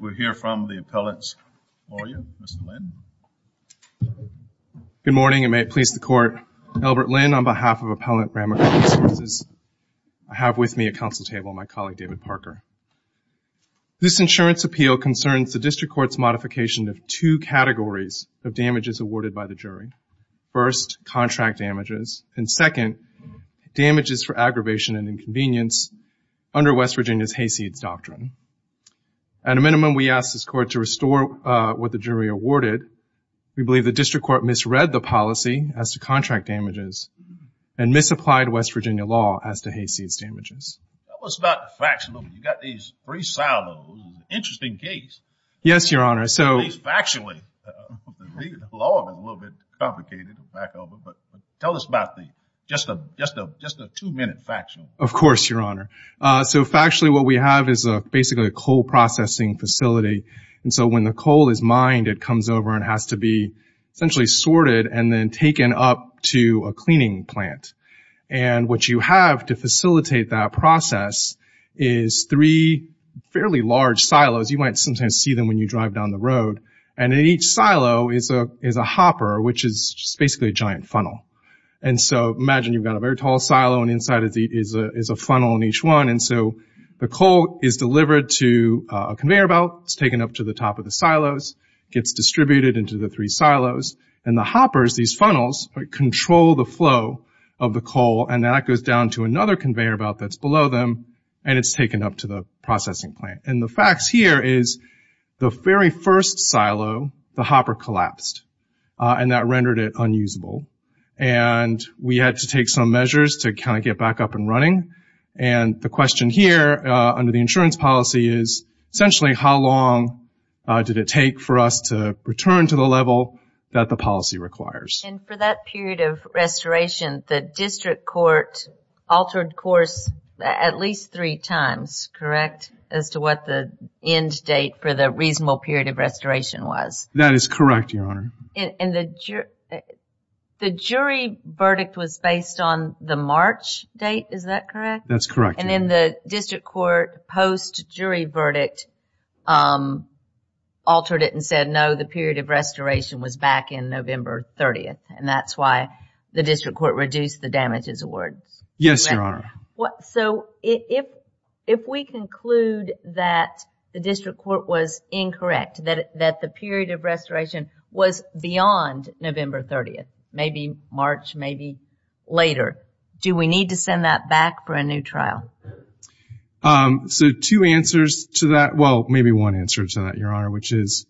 We'll hear from the appellant's lawyer, Mr. Lin. Good morning, and may it please the Court. Albert Lin on behalf of Appellant Ramaco Resources. I have with me at council table my colleague, David Parker. This insurance appeal concerns the district court's modification of two categories of damages awarded by the jury. First, contract damages, and second, damages for aggravation and inconvenience under West Virginia's Hayseeds Doctrine. At a minimum, we ask this court to restore what the jury awarded. We believe the district court misread the policy as to contract damages and misapplied West Virginia law as to Hayseeds damages. Tell us about the factional. You've got these three silos. Interesting case. Yes, Your Honor. At least factually. The law is a little bit complicated. Tell us about just a two-minute factional. Of course, Your Honor. So factually, what we have is basically a coal processing facility. And so when the coal is mined, it comes over and has to be essentially sorted and then taken up to a cleaning plant. And what you have to facilitate that process is three fairly large silos. You might sometimes see them when you drive down the road. And in each silo is a hopper, which is basically a giant funnel. And so imagine you've got a very tall silo, and inside is a funnel in each one. And so the coal is delivered to a conveyor belt. It's taken up to the top of the silos. It gets distributed into the three silos. And the hoppers, these funnels, control the flow of the coal, and that goes down to another conveyor belt that's below them, and it's taken up to the processing plant. And the facts here is the very first silo, the hopper collapsed, and that rendered it unusable. And we had to take some measures to kind of get back up and running. And the question here, under the insurance policy, is essentially how long did it take for us to return to the level that the policy requires. And for that period of restoration, the district court altered course at least three times, correct, as to what the end date for the reasonable period of restoration was? That is correct, Your Honor. And the jury verdict was based on the March date, is that correct? That's correct. And then the district court post-jury verdict altered it and said, no, the period of restoration was back in November 30th, and that's why the district court reduced the damages award. Yes, Your Honor. So if we conclude that the district court was incorrect, that the period of restoration was beyond November 30th, maybe March, maybe later, do we need to send that back for a new trial? So two answers to that, well, maybe one answer to that, Your Honor, which is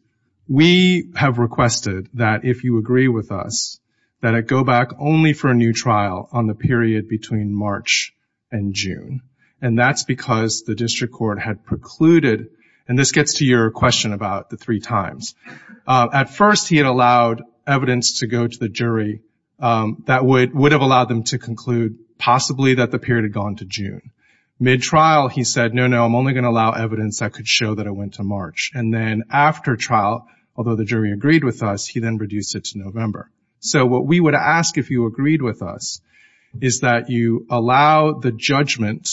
we have requested that if you agree with us, that it go back only for a new trial on the period between March and June. And that's because the district court had precluded, and this gets to your question about the three times, at first he had allowed evidence to go to the jury that would have allowed them to conclude possibly that the period had gone to June. Mid-trial he said, no, no, I'm only going to allow evidence that could show that it went to March. And then after trial, although the jury agreed with us, he then reduced it to November. So what we would ask if you agreed with us is that you allow the judgment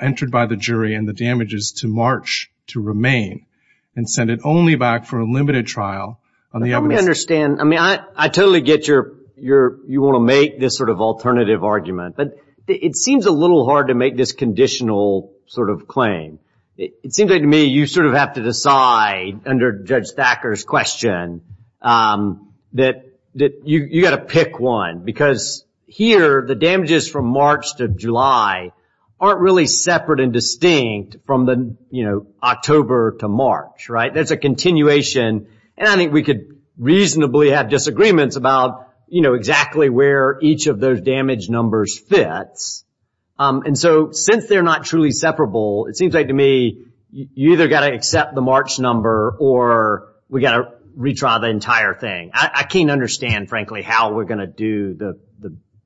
entered by the jury and the damages to March to remain and send it only back for a limited trial. Let me understand. I mean, I totally get you want to make this sort of alternative argument, but it seems a little hard to make this conditional sort of claim. It seems like to me you sort of have to decide under Judge Thacker's question that you've got to pick one, because here the damages from March to July aren't really separate and distinct from October to March. There's a continuation, and I think we could reasonably have disagreements about exactly where each of those damage numbers fits. And so since they're not truly separable, it seems like to me you've either got to accept the March number or we've got to retry the entire thing. I can't understand, frankly, how we're going to do the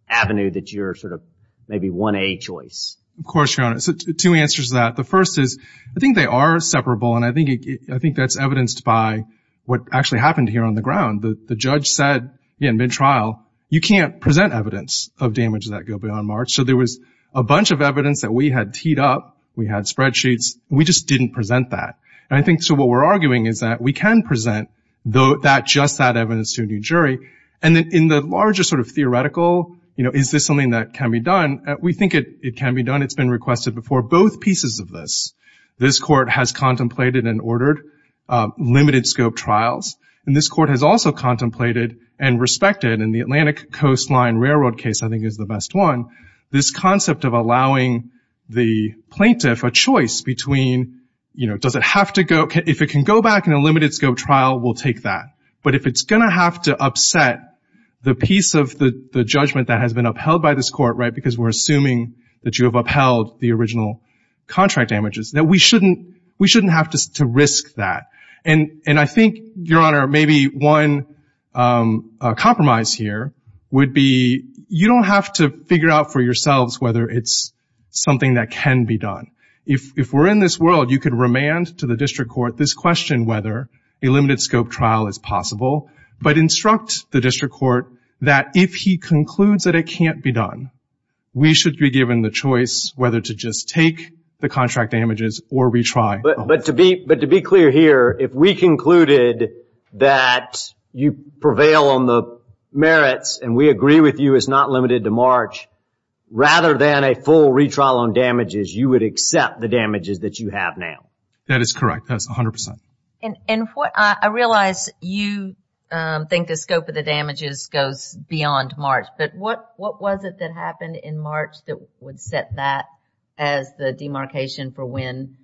avenue that you're sort of maybe 1A choice. Of course, Your Honor. Two answers to that. The first is I think they are separable, and I think that's evidenced by what actually happened here on the ground. The judge said in mid-trial you can't present evidence of damages that go beyond March. So there was a bunch of evidence that we had teed up. We had spreadsheets. We just didn't present that. And I think so what we're arguing is that we can present just that evidence to a new jury, and then in the larger sort of theoretical, you know, is this something that can be done? We think it can be done. It's been requested before both pieces of this. This court has contemplated and ordered limited-scope trials, and this court has also contemplated and respected, and the Atlantic Coastline Railroad case I think is the best one, this concept of allowing the plaintiff a choice between, you know, does it have to go? If it can go back in a limited-scope trial, we'll take that. But if it's going to have to upset the piece of the judgment that has been upheld by this court, right, because we're assuming that you have upheld the original contract damages, then we shouldn't have to risk that. And I think, Your Honor, maybe one compromise here would be you don't have to figure out for yourselves whether it's something that can be done. If we're in this world, you could remand to the district court this question, whether a limited-scope trial is possible, but instruct the district court that if he concludes that it can't be done, we should be given the choice whether to just take the contract damages or retry. But to be clear here, if we concluded that you prevail on the merits and we agree with you it's not limited to March, rather than a full retrial on damages, you would accept the damages that you have now? That is correct. That is 100%. And I realize you think the scope of the damages goes beyond March, but what was it that happened in March that would set that as the demarcation for when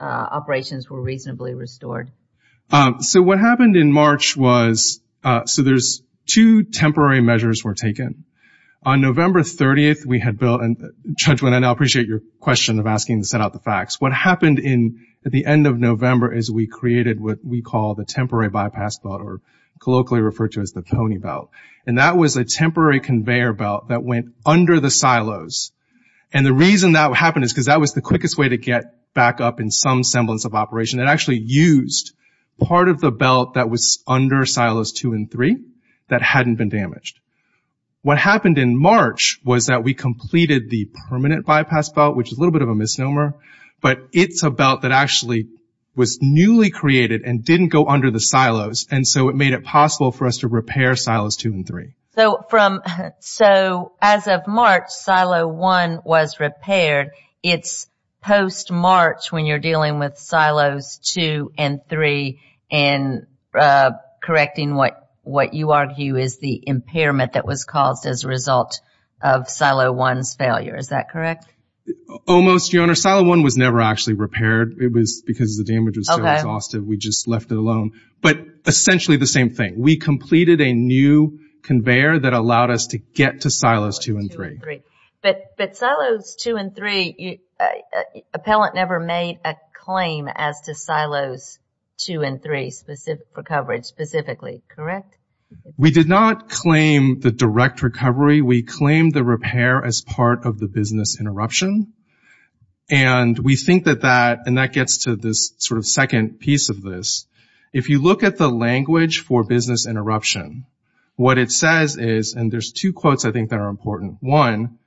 operations were reasonably restored? So what happened in March was, so there's two temporary measures were taken. On November 30th, we had built, and, Judge Winant, I appreciate your question of asking to set out the facts. What happened at the end of November is we created what we call the temporary bypass belt or colloquially referred to as the pony belt. And that was a temporary conveyor belt that went under the silos. And the reason that happened is because that was the quickest way to get back up in some semblance of operation. It actually used part of the belt that was under silos 2 and 3 that hadn't been damaged. What happened in March was that we completed the permanent bypass belt, which is a little bit of a misnomer, but it's a belt that actually was newly created and didn't go under the silos, and so it made it possible for us to repair silos 2 and 3. So as of March, silo 1 was repaired. It's post-March when you're dealing with silos 2 and 3 and correcting what you argue is the impairment that was caused as a result of silo 1's failure. Is that correct? Almost, Your Honor. Silo 1 was never actually repaired. It was because the damage was so exhaustive we just left it alone. But essentially the same thing. We completed a new conveyor that allowed us to get to silos 2 and 3. But silos 2 and 3, appellant never made a claim as to silos 2 and 3, for coverage specifically, correct? We did not claim the direct recovery. We claimed the repair as part of the business interruption. And we think that that gets to this sort of second piece of this. If you look at the language for business interruption, what it says is, and there's two quotes I think that are important. One,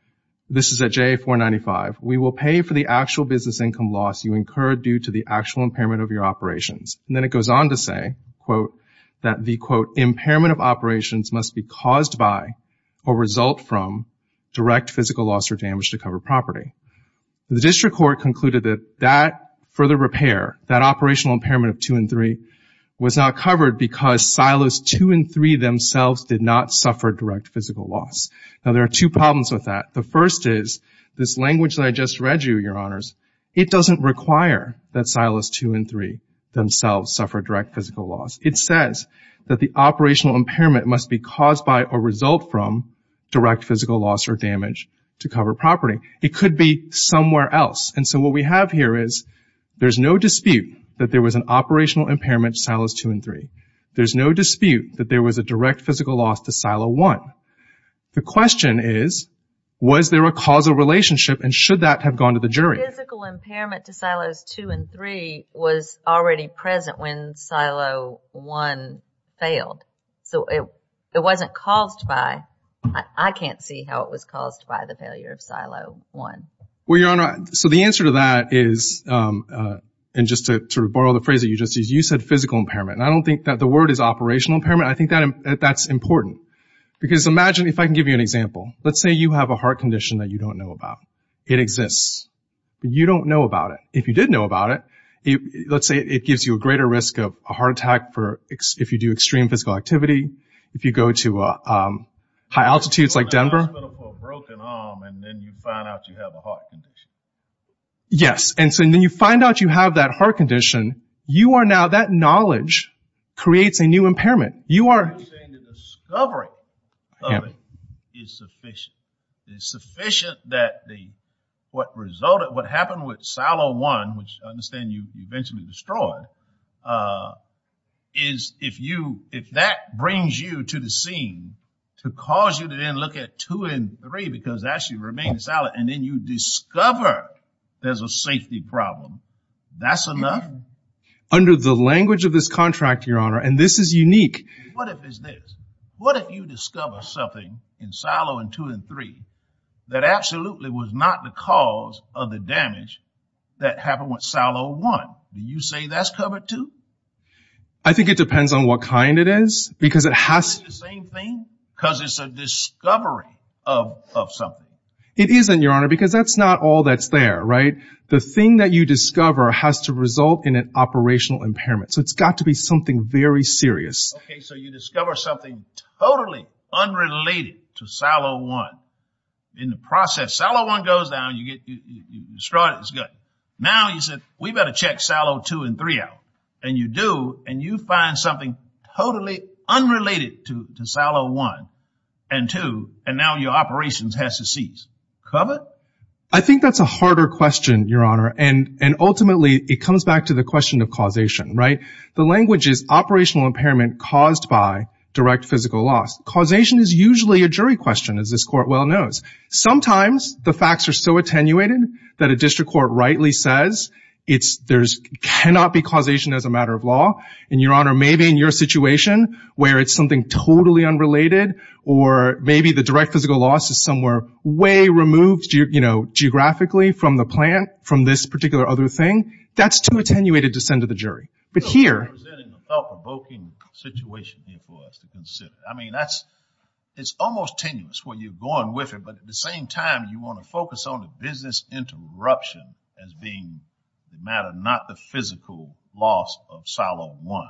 this is at JA-495, we will pay for the actual business income loss you incurred due to the actual impairment of your operations. And then it goes on to say, quote, that the, quote, impairment of operations must be caused by or result from direct physical loss or damage to covered property. The district court concluded that that further repair, that operational impairment of 2 and 3, was not covered because silos 2 and 3 themselves did not suffer direct physical loss. Now, there are two problems with that. The first is this language that I just read you, Your Honors, it doesn't require that silos 2 and 3 themselves suffer direct physical loss. It says that the operational impairment must be caused by or result from direct physical loss or damage to covered property. It could be somewhere else. And so what we have here is there's no dispute that there was an operational impairment to silos 2 and 3. There's no dispute that there was a direct physical loss to silo 1. The question is, was there a causal relationship and should that have gone to the jury? The physical impairment to silos 2 and 3 was already present when silo 1 failed. So it wasn't caused by... I can't see how it was caused by the failure of silo 1. Well, Your Honor, so the answer to that is, and just to sort of borrow the phrase that you just used, you said physical impairment. And I don't think that the word is operational impairment. I think that's important. Because imagine if I can give you an example. Let's say you have a heart condition that you don't know about. It exists, but you don't know about it. If you did know about it, let's say it gives you a greater risk of a heart attack if you do extreme physical activity, if you go to high altitudes like Denver. You go to the hospital for a broken arm and then you find out you have a heart condition. Yes, and so then you find out you have that heart condition, you are now, that knowledge creates a new impairment. You are saying the discovery of it is sufficient. It's sufficient that what resulted, what happened with silo 1, which I understand you eventually destroyed, is if that brings you to the scene to cause you to then look at 2 and 3 because that should remain silent and then you discover there's a safety problem, that's enough? Under the language of this contract, Your Honor, and this is unique. What if it's this? In silo 2 and 3, that absolutely was not the cause of the damage that happened with silo 1. Do you say that's covered too? I think it depends on what kind it is because it has to be the same thing because it's a discovery of something. It isn't, Your Honor, because that's not all that's there, right? The thing that you discover has to result in an operational impairment, so it's got to be something very serious. Okay, so you discover something totally unrelated to silo 1. In the process, silo 1 goes down, you destroy it, it's good. Now you said we've got to check silo 2 and 3 out, and you do, and you find something totally unrelated to silo 1 and 2, and now your operations has to cease. Covered? I think that's a harder question, Your Honor, and ultimately it comes back to the question of causation, right? The language is operational impairment caused by direct physical loss. Causation is usually a jury question, as this Court well knows. Sometimes the facts are so attenuated that a district court rightly says there cannot be causation as a matter of law, and, Your Honor, maybe in your situation where it's something totally unrelated or maybe the direct physical loss is somewhere way removed geographically from the plant, from this particular other thing, that's too attenuated to send to the jury. But here- You're presenting a thought-provoking situation here for us to consider. I mean, it's almost tenuous where you're going with it, but at the same time you want to focus on the business interruption as being the matter, not the physical loss of silo 1,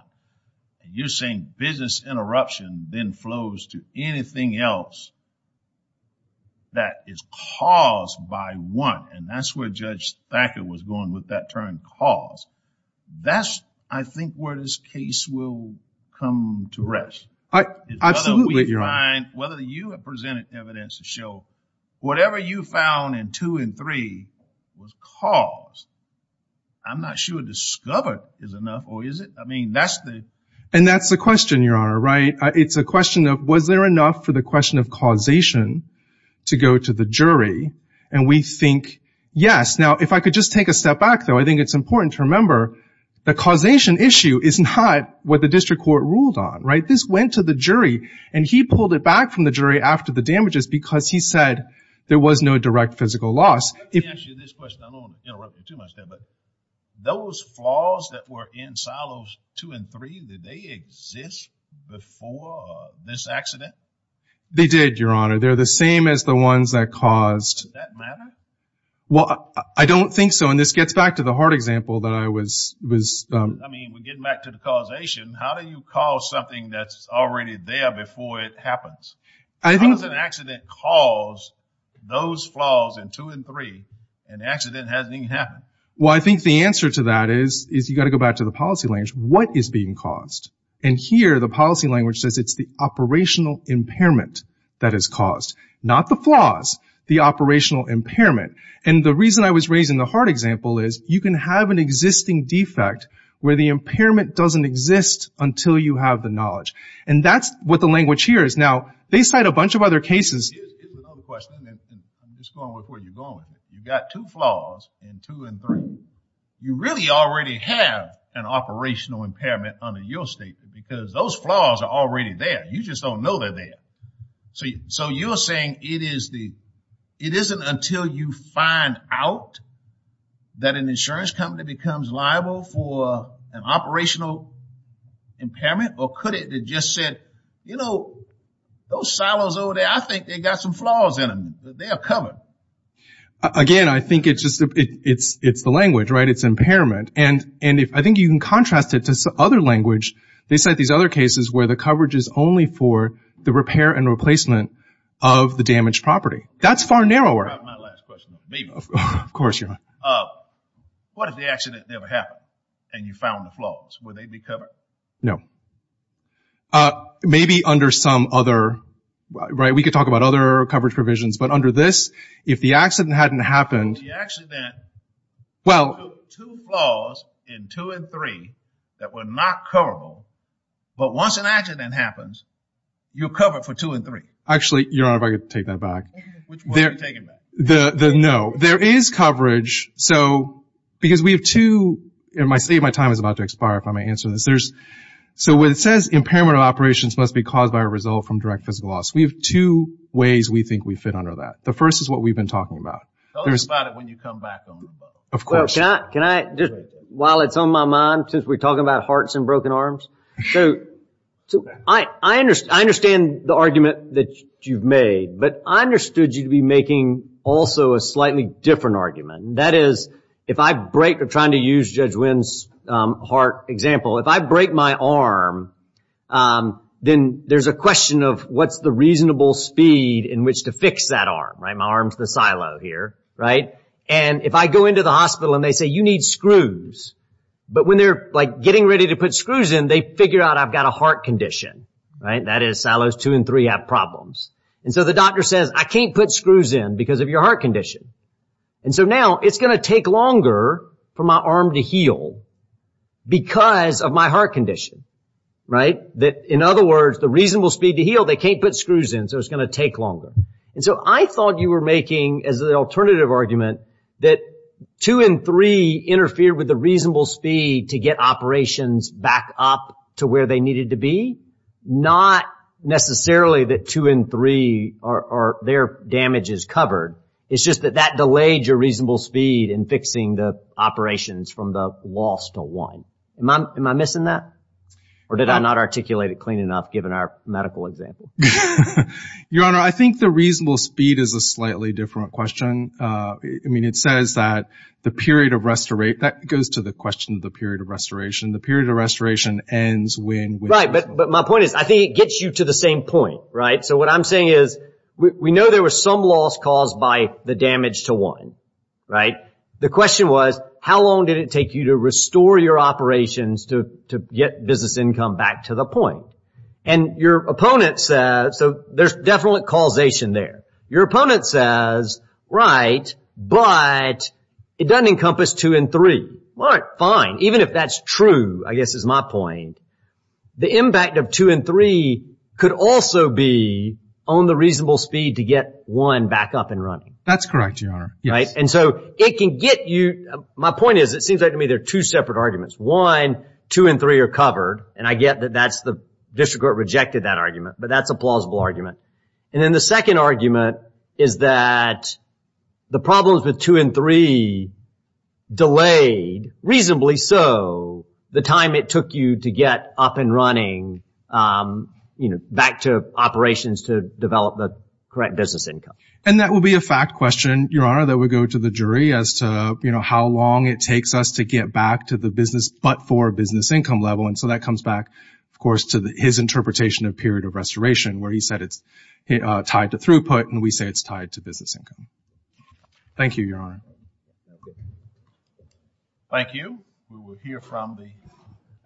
and you're saying business interruption then flows to anything else that is caused by 1, and that's where Judge Thacker was going with that term caused. That's, I think, where this case will come to rest. Absolutely, Your Honor. Whether you have presented evidence to show whatever you found in 2 and 3 was caused, I'm not sure discovered is enough or is it? I mean, that's the- And that's the question, Your Honor, right? It's a question of was there enough for the question of causation to go to the jury, and we think yes. Now, if I could just take a step back, though, I think it's important to remember the causation issue is not what the district court ruled on, right? This went to the jury, and he pulled it back from the jury after the damages because he said there was no direct physical loss. Let me ask you this question. I don't want to interrupt you too much there, but those flaws that were in silos 2 and 3, did they exist before this accident? They did, Your Honor. They're the same as the ones that caused- Did that matter? Well, I don't think so, and this gets back to the hard example that I was- I mean, we're getting back to the causation. How do you cause something that's already there before it happens? How does an accident cause those flaws in 2 and 3? An accident hasn't even happened. Well, I think the answer to that is you've got to go back to the policy language. What is being caused? And here the policy language says it's the operational impairment that is caused, not the flaws, the operational impairment. And the reason I was raising the hard example is you can have an existing defect where the impairment doesn't exist until you have the knowledge. And that's what the language here is. Now, they cite a bunch of other cases- Here's another question, and I'm just going with where you're going. You've got two flaws in 2 and 3. You really already have an operational impairment under your statement because those flaws are already there. You just don't know they're there. So you're saying it isn't until you find out that an insurance company becomes liable for an operational impairment, or could it have just said, you know, those silos over there, I think they've got some flaws in them. They are covered. Again, I think it's the language, right? It's impairment. And I think you can contrast it to other language. They cite these other cases where the coverage is only for the repair and replacement of the damaged property. That's far narrower. My last question. Of course, Your Honor. What if the accident never happened and you found the flaws? Would they be covered? No. Maybe under some other, right, we could talk about other coverage provisions, but under this, if the accident hadn't happened- Two flaws in two and three that were not coverable, but once an accident happens, you're covered for two and three. Actually, Your Honor, if I could take that back. Which one are you taking back? The no. There is coverage. So because we have two, and my time is about to expire if I may answer this. So when it says impairment of operations must be caused by a result from direct physical loss, we have two ways we think we fit under that. The first is what we've been talking about. Tell us about it when you come back on the boat. Of course. While it's on my mind, since we're talking about hearts and broken arms, I understand the argument that you've made, but I understood you to be making also a slightly different argument. That is, if I try to use Judge Wynn's heart example, if I break my arm, then there's a question of what's the reasonable speed in which to fix that arm. My arm's the silo here. If I go into the hospital and they say, you need screws, but when they're getting ready to put screws in, they figure out I've got a heart condition. That is, silos two and three have problems. So the doctor says, I can't put screws in because of your heart condition. So now it's going to take longer for my arm to heal because of my heart condition. In other words, the reasonable speed to heal, they can't put screws in, so it's going to take longer. And so I thought you were making, as an alternative argument, that two and three interfere with the reasonable speed to get operations back up to where they needed to be. Not necessarily that two and three are their damages covered. It's just that that delayed your reasonable speed in fixing the operations from the loss to one. Am I missing that? Or did I not articulate it clean enough, given our medical example? Your Honor, I think the reasonable speed is a slightly different question. I mean, it says that the period of restoration, that goes to the question of the period of restoration. The period of restoration ends when. Right, but my point is, I think it gets you to the same point, right? So what I'm saying is, we know there was some loss caused by the damage to one, right? The question was, how long did it take you to restore your operations to get business income back to the point? And your opponent says, so there's definitely causation there. Your opponent says, right, but it doesn't encompass two and three. All right, fine, even if that's true, I guess is my point. The impact of two and three could also be on the reasonable speed to get one back up and running. That's correct, Your Honor. Right, and so it can get you. My point is, it seems like to me there are two separate arguments. One, two and three are covered, and I get that that's the district court rejected that argument, but that's a plausible argument. And then the second argument is that the problems with two and three delayed, reasonably so, the time it took you to get up and running, you know, back to operations to develop the correct business income. And that would be a fact question, Your Honor, that would go to the jury as to, you know, how long it takes us to get back to the business but for business income level. And so that comes back, of course, to his interpretation of period of restoration where he said it's tied to throughput, and we say it's tied to business income. Thank you, Your Honor. Thank you. We will hear from the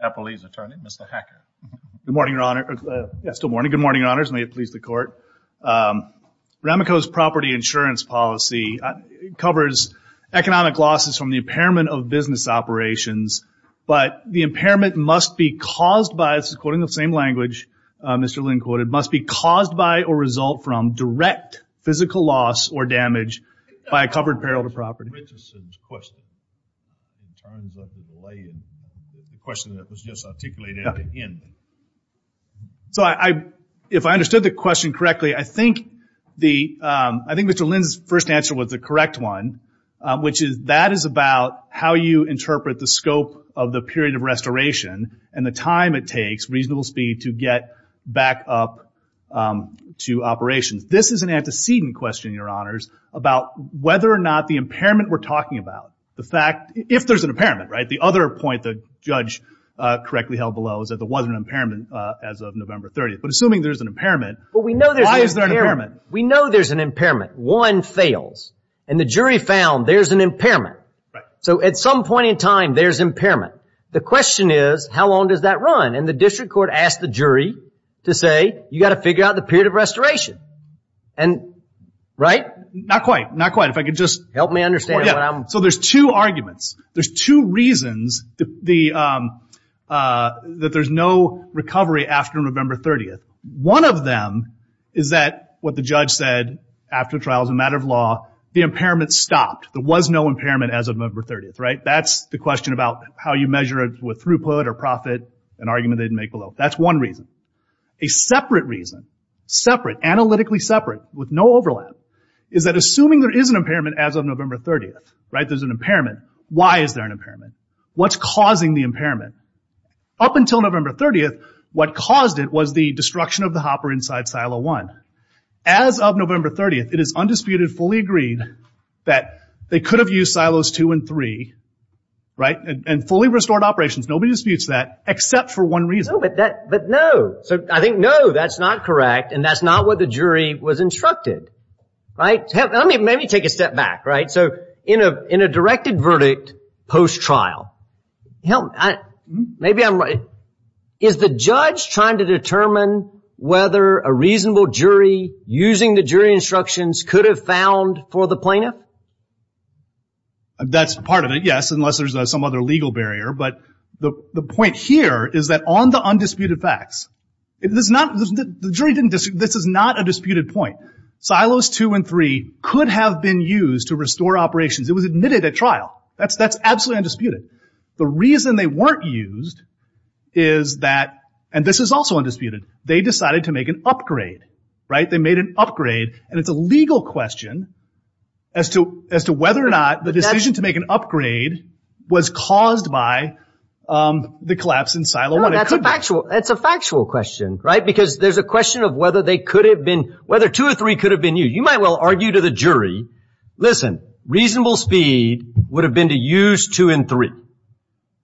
appellee's attorney, Mr. Hacker. Good morning, Your Honor. Yeah, still morning. Good morning, Your Honors. May it please the Court. Rameco's property insurance policy covers economic losses from the impairment of business operations, but the impairment must be caused by, this is quoting the same language Mr. Lynn quoted, must be caused by or result from direct physical loss or damage by a covered peril to property. The question that was just articulated at the end. So if I understood the question correctly, I think Mr. Lynn's first answer was the correct one, which is that is about how you interpret the scope of the period of restoration and the time it takes, reasonable speed, to get back up to operations. This is an antecedent question, Your Honors, about whether or not the impairment we're talking about, the fact, if there's an impairment, right? The other point the judge correctly held below is that there wasn't an impairment as of November 30th. But assuming there's an impairment, why is there an impairment? We know there's an impairment. One fails. And the jury found there's an impairment. Right. So at some point in time, there's impairment. The question is, how long does that run? And the district court asked the jury to say, you've got to figure out the period of restoration. And, right? Not quite. Not quite. If I could just. Help me understand what I'm. So there's two arguments. There's two reasons that there's no recovery after November 30th. One of them is that what the judge said after the trial as a matter of law, the impairment stopped. There was no impairment as of November 30th. Right. That's the question about how you measure it with throughput or profit, an argument they didn't make below. That's one reason. A separate reason, separate, analytically separate, with no overlap, is that assuming there is an impairment as of November 30th, right? There's an impairment. Why is there an impairment? What's causing the impairment? Up until November 30th, what caused it was the destruction of the hopper inside silo one. As of November 30th, it is undisputed, fully agreed, that they could have used silos two and three, right? And fully restored operations. Nobody disputes that except for one reason. But no. I think no, that's not correct. And that's not what the jury was instructed. Right? Let me take a step back, right? So in a directed verdict post-trial, is the judge trying to determine whether a reasonable jury using the jury instructions could have found for the plaintiff? That's part of it, yes, unless there's some other legal barrier. But the point here is that on the undisputed facts, this is not a disputed point. Silos two and three could have been used to restore operations. It was admitted at trial. That's absolutely undisputed. The reason they weren't used is that, and this is also undisputed, they decided to make an upgrade, right? They made an upgrade. And it's a legal question as to whether or not the decision to make an upgrade was caused by the collapse in silo one. That's a factual question, right? Because there's a question of whether two or three could have been used. You might well argue to the jury, listen, reasonable speed would have been to use two and three,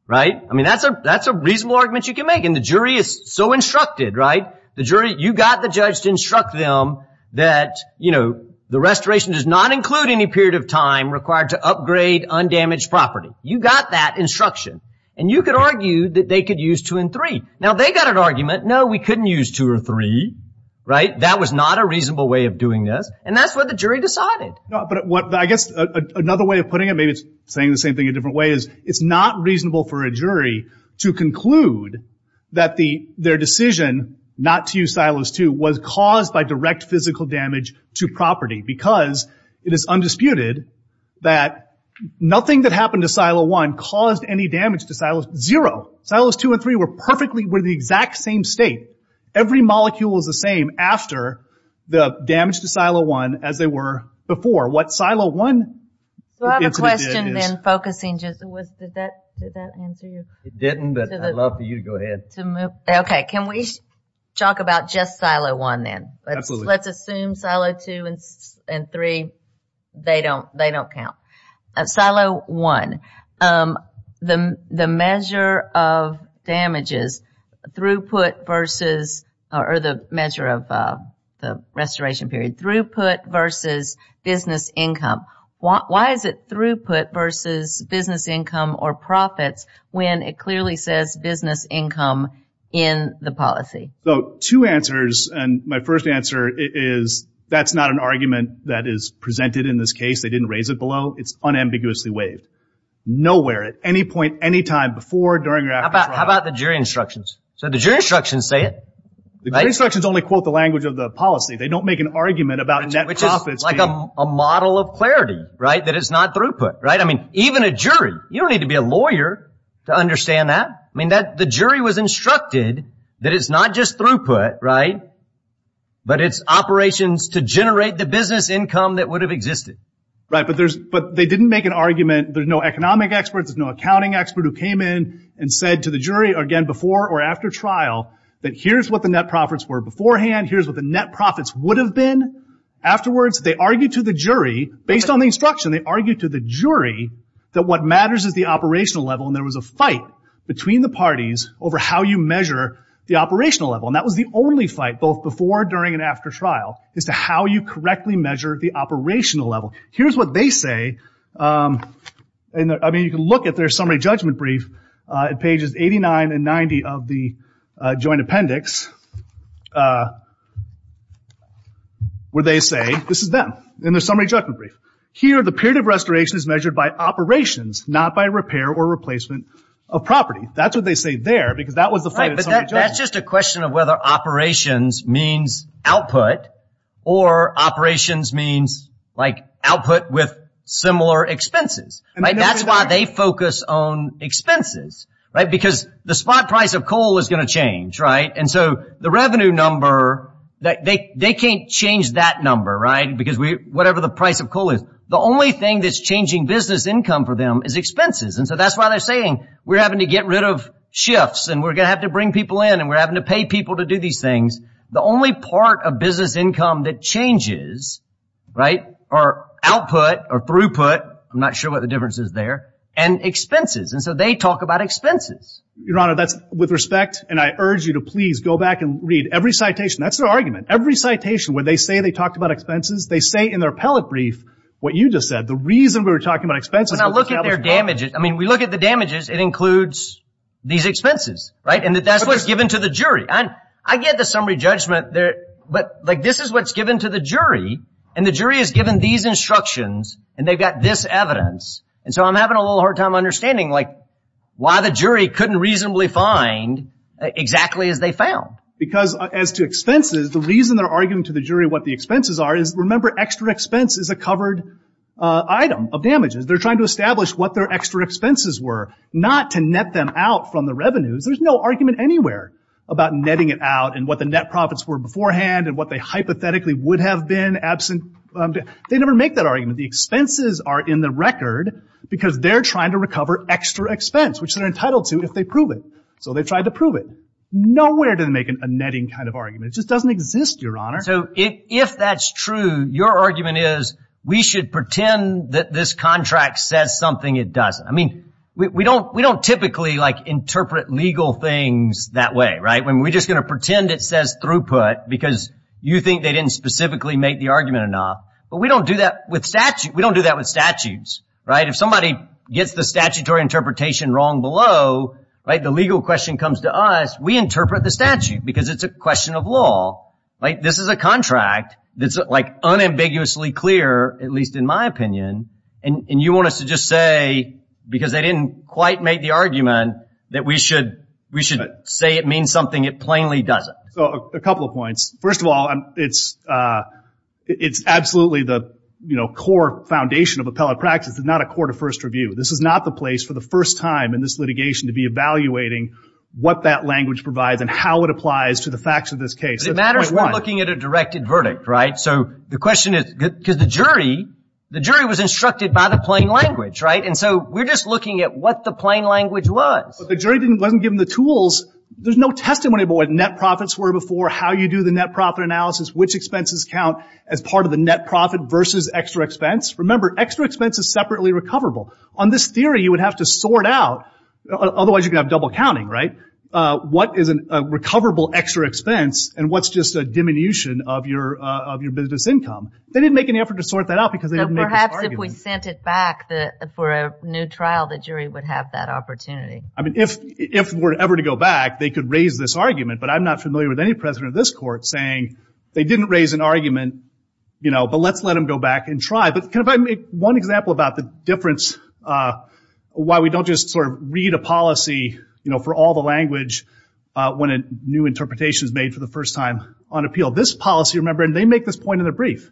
right? I mean, that's a reasonable argument you can make. And the jury is so instructed, right? You got the judge to instruct them that the restoration does not include any period of time required to upgrade undamaged property. You got that instruction. And you could argue that they could use two and three. Now, they got an argument, no, we couldn't use two or three, right? That was not a reasonable way of doing this. And that's what the jury decided. But I guess another way of putting it, maybe it's saying the same thing a different way, is it's not reasonable for a jury to conclude that their decision not to use silos two was caused by direct physical damage to property because it is damage to silos zero. Silos two and three were perfectly, were the exact same state. Every molecule was the same after the damage to silo one as they were before. What silo one. So I have a question then focusing just, did that answer you? It didn't, but I'd love for you to go ahead. Okay, can we talk about just silo one then? Absolutely. Let's assume silo two and three, they don't count. Silo one, the measure of damages, throughput versus, or the measure of the restoration period, throughput versus business income. Why is it throughput versus business income or profits when it clearly says business income in the policy? Two answers, and my first answer is that's not an argument that is presented in this case. They didn't raise it below. It's unambiguously waived. Nowhere at any point, any time before, during, or after trial. How about the jury instructions? So the jury instructions say it. The jury instructions only quote the language of the policy. They don't make an argument about net profits being. Which is like a model of clarity, right, that it's not throughput, right? I mean, even a jury, you don't need to be a lawyer to understand that. I mean, the jury was instructed that it's not just throughput, right, but it's operations to generate the business income that would have existed. Right, but they didn't make an argument. There's no economic expert. There's no accounting expert who came in and said to the jury, again, before or after trial, that here's what the net profits were beforehand. Here's what the net profits would have been. Afterwards, they argued to the jury, based on the instruction, they argued to the jury that what matters is the operational level, and there was a fight between the parties over how you measure the operational level. And that was the only fight, both before, during, and after trial, as to how you correctly measure the operational level. Here's what they say. I mean, you can look at their summary judgment brief at pages 89 and 90 of the joint appendix, where they say, this is them, in their summary judgment brief. Here, the period of restoration is measured by operations, not by repair or replacement of property. That's what they say there, because that was the fight of summary judgment. It's a question of whether operations means output, or operations means, like, output with similar expenses. That's why they focus on expenses, right, because the spot price of coal is going to change, right? And so the revenue number, they can't change that number, right, because whatever the price of coal is. The only thing that's changing business income for them is expenses, and so that's why they're saying we're having to get rid of shifts, and we're going to have to bring people in, and we're having to pay people to do these things. The only part of business income that changes, right, are output or throughput, I'm not sure what the difference is there, and expenses, and so they talk about expenses. Your Honor, that's with respect, and I urge you to please go back and read every citation. That's their argument. Every citation where they say they talked about expenses, they say in their appellate brief what you just said. The reason we were talking about expenses was to establish profit. When I look at their damages, I mean, we look at the damages. It includes these expenses, right, and that's what's given to the jury. I get the summary judgment, but, like, this is what's given to the jury, and the jury has given these instructions, and they've got this evidence, and so I'm having a little hard time understanding, like, why the jury couldn't reasonably find exactly as they found. Because as to expenses, the reason they're arguing to the jury what the expenses are is, remember, extra expense is a covered item of damages. They're trying to establish what their extra expenses were, not to net them out from the revenues. There's no argument anywhere about netting it out and what the net profits were beforehand and what they hypothetically would have been absent. They never make that argument. The expenses are in the record because they're trying to recover extra expense, which they're entitled to if they prove it. So they've tried to prove it. Nowhere do they make a netting kind of argument. It just doesn't exist, Your Honor. So if that's true, your argument is, we should pretend that this contract says something it doesn't. I mean, we don't typically, like, interpret legal things that way, right? I mean, we're just going to pretend it says throughput because you think they didn't specifically make the argument enough, but we don't do that with statute. We don't do that with statutes, right? If somebody gets the statutory interpretation wrong below, right, the legal question comes to us. We interpret the statute because it's a question of law, right? This is a contract that's, like, unambiguously clear, at least in my opinion, and you want us to just say because they didn't quite make the argument that we should say it means something it plainly doesn't. So a couple of points. First of all, it's absolutely the core foundation of appellate practice. It's not a court of first review. This is not the place for the first time in this litigation to be evaluating what that language provides and how it applies to the facts of this case. It matters we're looking at a directed verdict, right? So the question is because the jury was instructed by the plain language, right? And so we're just looking at what the plain language was. But the jury wasn't given the tools. There's no testimony about what net profits were before, how you do the net profit analysis, which expenses count as part of the net profit versus extra expense. Remember, extra expense is separately recoverable. On this theory, you would have to sort out, otherwise you're going to have double counting, right, what is a recoverable extra expense and what's just a diminution of your business income. They didn't make any effort to sort that out because they didn't make this argument. So perhaps if we sent it back for a new trial, the jury would have that opportunity. I mean, if we're ever to go back, they could raise this argument. But I'm not familiar with any president of this court saying they didn't raise an argument, but let's let them go back and try. But can I make one example about the difference, why we don't just sort of read a policy for all the language when a new interpretation is made for the first time on appeal. This policy, remember, and they make this point in their brief.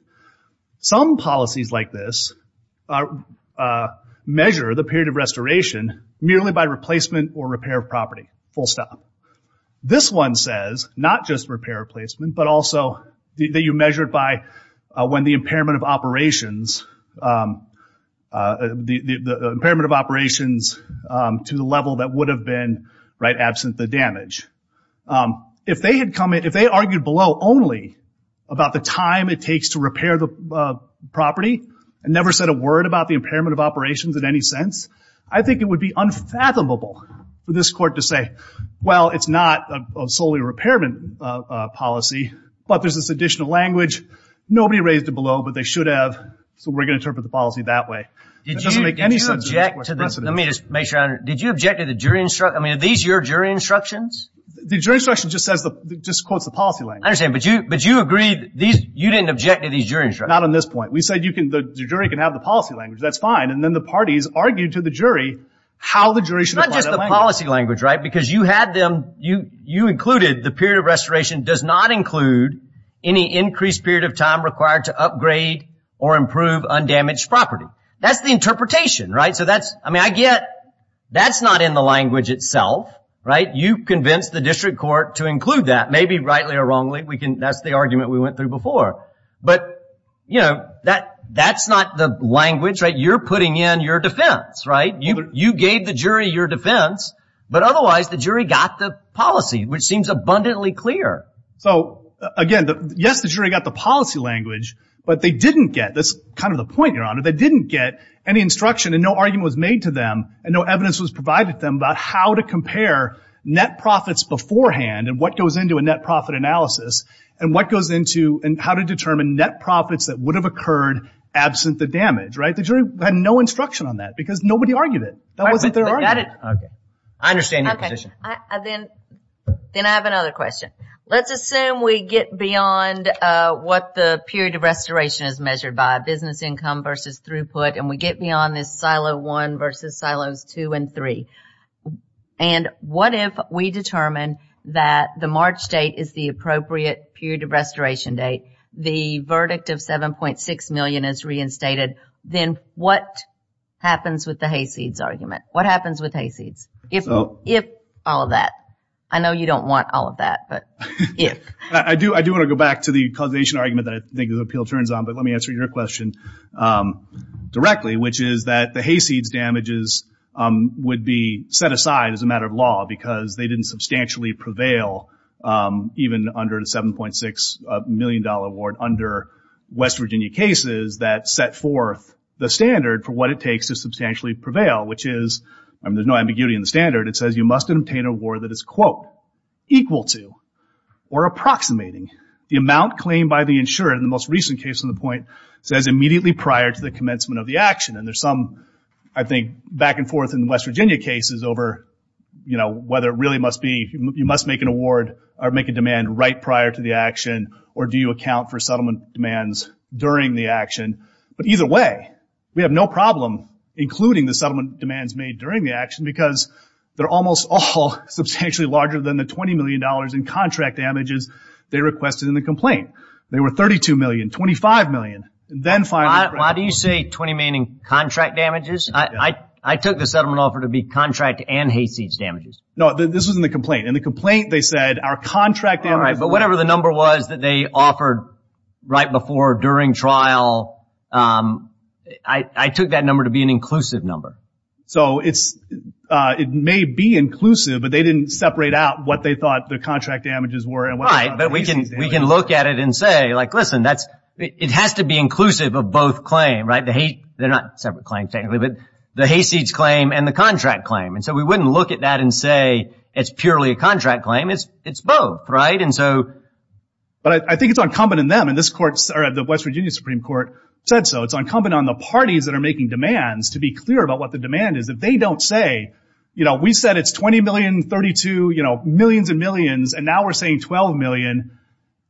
Some policies like this measure the period of restoration merely by replacement or repair of property, full stop. This one says not just repair or placement, but also that you measure it by when the impairment of operations, the impairment of operations to the level that would have been, right, absent the damage. If they had come in, if they argued below only about the time it takes to repair the property and never said a word about the impairment of operations in any sense, I think it would be unfathomable for this court to say, well, it's not solely a repairment policy, but there's this additional language. Nobody raised it below, but they should have, so we're going to interpret the policy that way. It doesn't make any sense to this court. Let me just make sure. Did you object to the jury instruction? I mean, are these your jury instructions? The jury instruction just quotes the policy language. I understand, but you agreed you didn't object to these jury instructions. Not on this point. We said the jury can have the policy language. That's fine, and then the parties argued to the jury how the jury should apply that language. It's not just the policy language, right, because you had them, you included the period of restoration does not include any increased period of time required to upgrade or improve undamaged property. That's the interpretation, right? I mean, I get that's not in the language itself, right? You convinced the district court to include that, maybe rightly or wrongly, that's the argument we went through before. But, you know, that's not the language, right? You're putting in your defense, right? You gave the jury your defense, but otherwise the jury got the policy, which seems abundantly clear. So, again, yes, the jury got the policy language, but they didn't get, that's kind of the point, Your Honor, they didn't get any instruction and no argument was made to them and no evidence was provided to them about how to compare net profits beforehand and what goes into a net profit analysis and what goes into and how to determine net profits that would have occurred absent the damage, right? The jury had no instruction on that because nobody argued it. That wasn't their argument. I understand your position. Then I have another question. Let's assume we get beyond what the period of restoration is measured by, business income versus throughput, and we get beyond this silo one versus silos two and three. And what if we determine that the March date is the appropriate period of restoration date, the verdict of $7.6 million is reinstated, then what happens with the hayseeds argument? What happens with hayseeds? If all of that. I know you don't want all of that, but if. I do want to go back to the causation argument that I think the appeal turns on, but let me answer your question directly, which is that the hayseeds damages would be set aside as a matter of law because they didn't substantially prevail even under the $7.6 million award under West Virginia cases that set forth the standard for what it takes to substantially prevail, which is there's no ambiguity in the standard. It says you must obtain an award that is, quote, equal to or approximating the amount claimed by the insurer in the most recent case on the point says immediately prior to the commencement of the action. And there's some, I think, back and forth in West Virginia cases over whether it really must be you must make an award or make a demand right prior to the action or do you account for settlement demands during the action. But either way, we have no problem including the settlement demands made during the action because they're almost all substantially larger than the $20 million in contract damages they requested in the complaint. They were $32 million, $25 million, and then finally. Why do you say 20 meaning contract damages? I took the settlement offer to be contract and hayseeds damages. No, this was in the complaint. In the complaint they said our contract damages. All right, but whatever the number was that they offered right before or during trial, I took that number to be an inclusive number. So it may be inclusive, but they didn't separate out what they thought the contract damages were. Right, but we can look at it and say, like, listen, it has to be inclusive of both claims, right? They're not separate claims technically, but the hayseeds claim and the contract claim. And so we wouldn't look at that and say it's purely a contract claim. It's both, right? But I think it's incumbent on them, and the West Virginia Supreme Court said so. It's incumbent on the parties that are making demands to be clear about what the demand is. If they don't say, you know, we said it's $20 million, $32, you know, millions and millions, and now we're saying $12 million,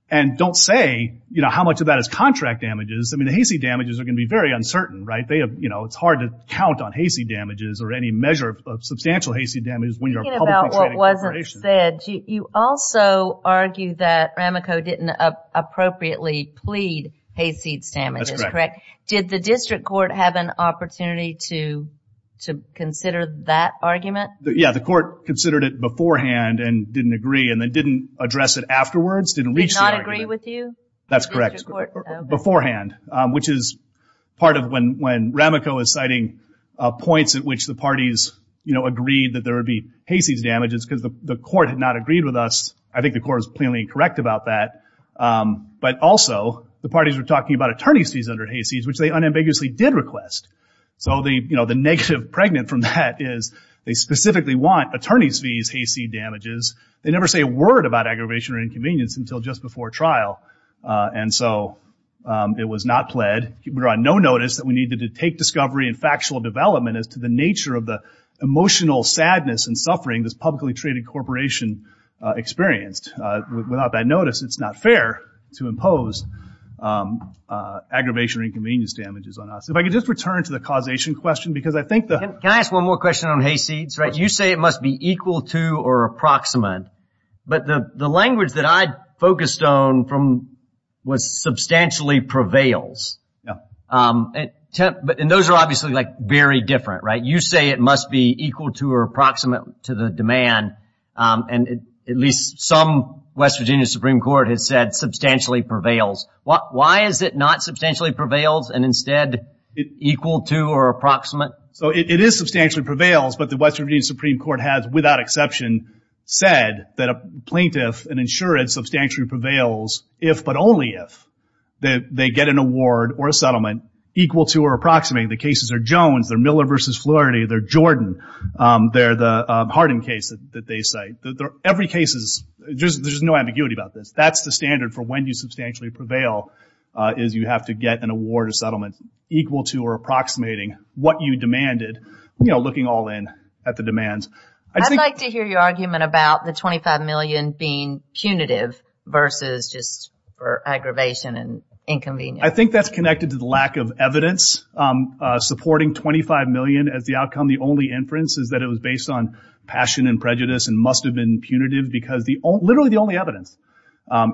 and don't say, you know, how much of that is contract damages, I mean, the hayseed damages are going to be very uncertain, right? It's hard to count on hayseed damages or any measure of substantial hayseed damages when you're a publicly traded corporation. As you said, you also argue that Rameco didn't appropriately plead hayseeds damages, correct? That's correct. Did the district court have an opportunity to consider that argument? Yeah, the court considered it beforehand and didn't agree, and then didn't address it afterwards, didn't reach the argument. Did not agree with you? That's correct. Beforehand, which is part of when Rameco is citing points at which the parties, you know, agreed that there would be hayseeds damages because the court had not agreed with us. I think the court was plainly incorrect about that. But also, the parties were talking about attorney's fees under hayseeds, which they unambiguously did request. So, you know, the negative pregnant from that is they specifically want attorney's fees hayseed damages. They never say a word about aggravation or inconvenience until just before trial, and so it was not pled. We were on no notice that we needed to take discovery and factual development as to the nature of the emotional sadness and suffering this publicly traded corporation experienced. Without that notice, it's not fair to impose aggravation or inconvenience damages on us. If I could just return to the causation question, because I think the… Can I ask one more question on hayseeds? You say it must be equal to or approximate, but the language that I focused on was substantially prevails. Yeah. And those are obviously, like, very different, right? You say it must be equal to or approximate to the demand, and at least some West Virginia Supreme Court has said substantially prevails. Why is it not substantially prevails and instead equal to or approximate? So, it is substantially prevails, but the West Virginia Supreme Court has, without exception, said that a plaintiff and insured substantially prevails if but only if they get an award or a settlement equal to or approximate. I mean, the cases are Jones, they're Miller v. Flaherty, they're Jordan, they're the Hardin case that they cite. Every case is… There's no ambiguity about this. That's the standard for when you substantially prevail is you have to get an award or settlement equal to or approximating what you demanded, you know, looking all in at the demands. I'd like to hear your argument about the $25 million being punitive versus just for aggravation and inconvenience. I think that's connected to the lack of evidence supporting $25 million as the outcome. The only inference is that it was based on passion and prejudice and must have been punitive because literally the only evidence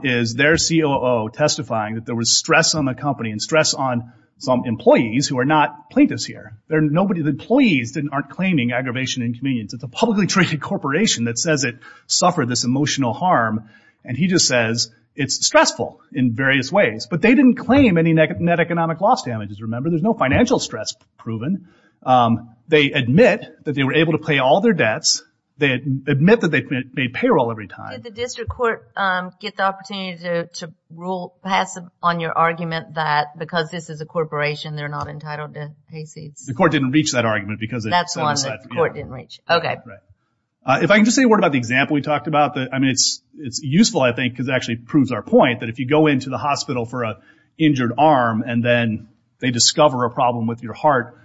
is their COO testifying that there was stress on the company and stress on some employees who are not plaintiffs here. The employees aren't claiming aggravation and inconvenience. It's a publicly traded corporation that says it suffered this emotional harm, and he just says it's stressful in various ways. But they didn't claim any net economic loss damages. Remember, there's no financial stress proven. They admit that they were able to pay all their debts. They admit that they made payroll every time. Did the district court get the opportunity to rule passive on your argument that because this is a corporation, they're not entitled to pay seeds? The court didn't reach that argument because… That's why the court didn't reach it. Okay. If I can just say a word about the example we talked about. I mean, it's useful, I think, because it actually proves our point that if you go into the hospital for an injured arm and then they discover a problem with your heart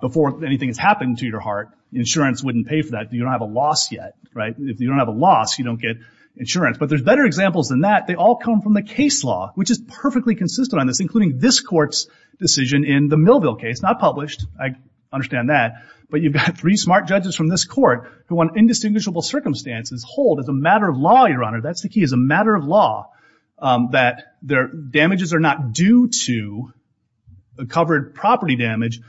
before anything has happened to your heart, insurance wouldn't pay for that. You don't have a loss yet, right? If you don't have a loss, you don't get insurance. But there's better examples than that. They all come from the case law, which is perfectly consistent on this, including this court's decision in the Millville case. Not published. I understand that. But you've got three smart judges from this court who, under indistinguishable circumstances, hold as a matter of law, Your Honor, that's the key, as a matter of law, that damages are not due to the covered property damage.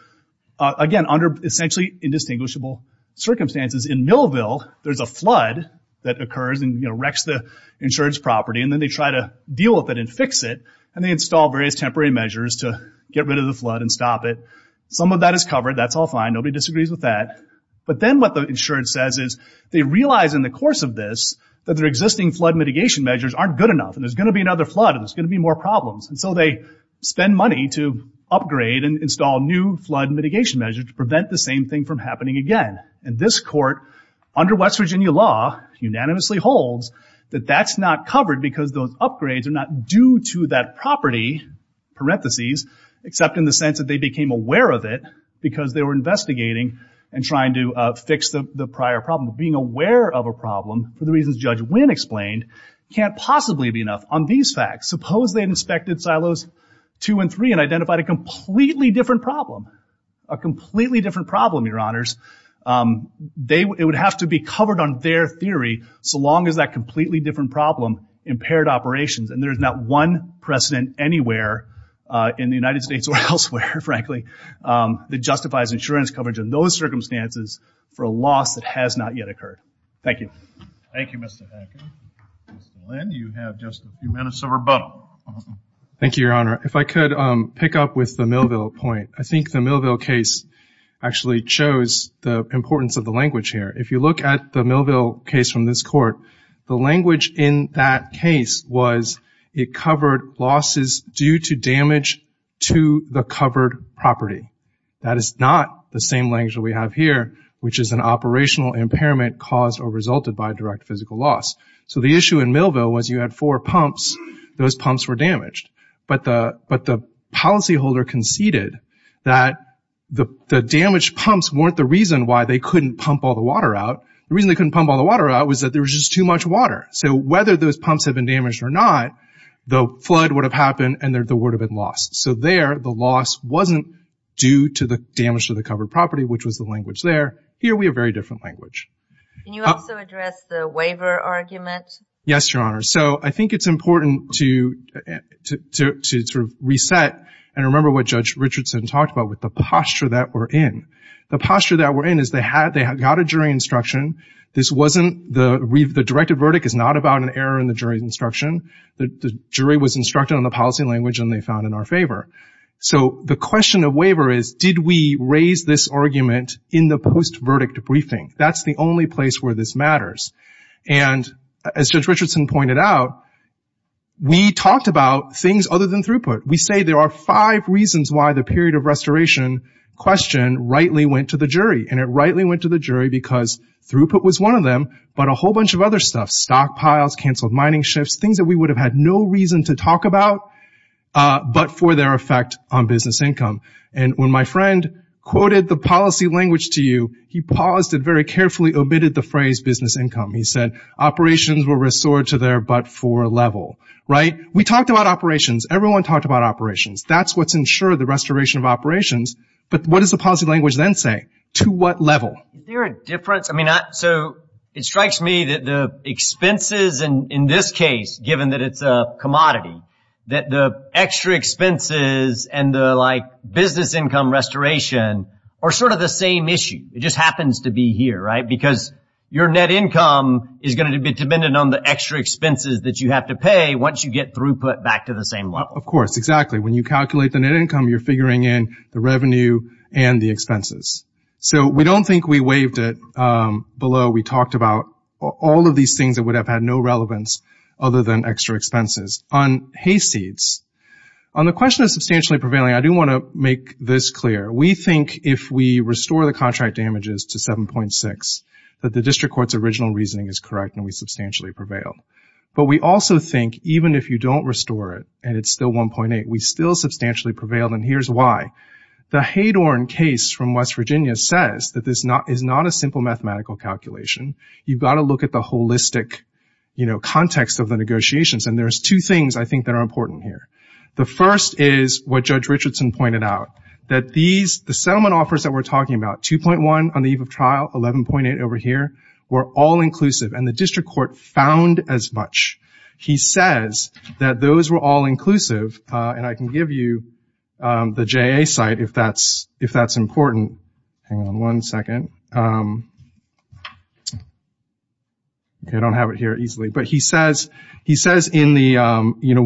Again, under essentially indistinguishable circumstances. In Millville, there's a flood that occurs and wrecks the insurance property. And then they try to deal with it and fix it. And they install various temporary measures to get rid of the flood and stop it. Some of that is covered. That's all fine. Nobody disagrees with that. But then what the insurance says is they realize in the course of this that their existing flood mitigation measures aren't good enough and there's going to be another flood and there's going to be more problems. And so they spend money to upgrade and install new flood mitigation measures to prevent the same thing from happening again. And this court, under West Virginia law, unanimously holds that that's not covered because those upgrades are not due to that property, parentheses, except in the sense that they became aware of it because they were investigating and trying to fix the prior problem. Being aware of a problem, for the reasons Judge Winn explained, can't possibly be enough on these facts. Suppose they'd inspected silos 2 and 3 and identified a completely different problem. A completely different problem, Your Honors. It would have to be covered on their theory so long as that completely different problem impaired operations. And there's not one precedent anywhere in the United States or elsewhere, frankly, that justifies insurance coverage in those circumstances for a loss that has not yet occurred. Thank you. Thank you, Mr. Hackett. Mr. Lynn, you have just a few minutes of rebuttal. Thank you, Your Honor. If I could pick up with the Millville point. I think the Millville case actually shows the importance of the language here. If you look at the Millville case from this court, the language in that case was it covered losses due to damage to the covered property. That is not the same language that we have here, which is an operational impairment caused or resulted by a direct physical loss. So the issue in Millville was you had four pumps. Those pumps were damaged. But the policyholder conceded that the damaged pumps weren't the reason why they couldn't pump all the water out. The reason they couldn't pump all the water out was that there was just too much water. So whether those pumps had been damaged or not, the flood would have happened and there would have been loss. So there the loss wasn't due to the damage to the covered property, which was the language there. Here we have a very different language. Can you also address the waiver argument? Yes, Your Honor. So I think it's important to sort of reset and remember what Judge Richardson talked about with the posture that we're in. The posture that we're in is they got a jury instruction. This wasn't the directive verdict is not about an error in the jury's instruction. The jury was instructed on the policy language and they found in our favor. So the question of waiver is did we raise this argument in the post-verdict briefing? That's the only place where this matters. And as Judge Richardson pointed out, we talked about things other than throughput. We say there are five reasons why the period of restoration question rightly went to the jury, and it rightly went to the jury because throughput was one of them, but a whole bunch of other stuff, stockpiles, canceled mining shifts, things that we would have had no reason to talk about but for their effect on business income. And when my friend quoted the policy language to you, he paused and very carefully omitted the phrase business income. He said operations were restored to their but-for level, right? We talked about operations. Everyone talked about operations. That's what's ensured, the restoration of operations. But what does the policy language then say? To what level? Is there a difference? I mean, so it strikes me that the expenses in this case, given that it's a commodity, that the extra expenses and the, like, business income restoration are sort of the same issue. It just happens to be here, right? Because your net income is going to be dependent on the extra expenses that you have to pay once you get throughput back to the same level. Of course, exactly. When you calculate the net income, you're figuring in the revenue and the expenses. So we don't think we waived it below. We talked about all of these things that would have had no relevance other than extra expenses. On hayseeds, on the question of substantially prevailing, I do want to make this clear. We think if we restore the contract damages to 7.6, that the district court's original reasoning is correct and we substantially prevailed. But we also think even if you don't restore it and it's still 1.8, we still substantially prevailed, and here's why. The Hadorn case from West Virginia says that this is not a simple mathematical calculation. You've got to look at the holistic, you know, context of the negotiations, and there's two things I think that are important here. The first is what Judge Richardson pointed out, that the settlement offers that we're talking about, 2.1 on the eve of trial, 11.8 over here, were all inclusive, and the district court found as much. He says that those were all inclusive, and I can give you the JA site if that's important. Hang on one second. Okay, I don't have it here easily. But he says when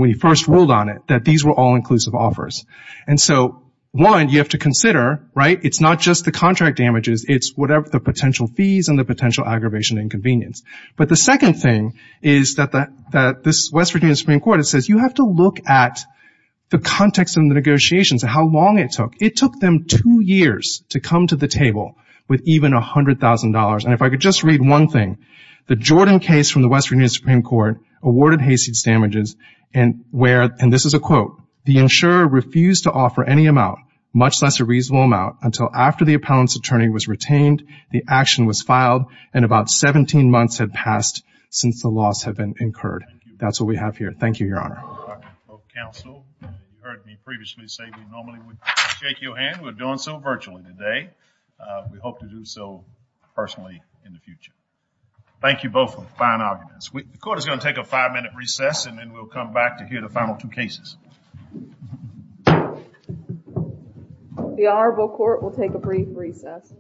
he first ruled on it that these were all inclusive offers. And so, one, you have to consider, right, it's not just the contract damages, it's the potential fees and the potential aggravation and inconvenience. But the second thing is that this West Virginia Supreme Court, it says you have to look at the context of the negotiations and how long it took. It took them two years to come to the table with even $100,000. And if I could just read one thing, the Jordan case from the West Virginia Supreme Court awarded Hayseed damages, and this is a quote, the insurer refused to offer any amount, much less a reasonable amount, until after the appellant's attorney was retained, the action was filed, and about 17 months had passed since the loss had been incurred. That's what we have here. Thank you, Your Honor. Well, counsel, you heard me previously say we normally would shake your hand. We're doing so virtually today. We hope to do so personally in the future. Thank you both for the fine arguments. The court is going to take a five-minute recess, and then we'll come back to hear the final two cases. The Honorable Court will take a brief recess.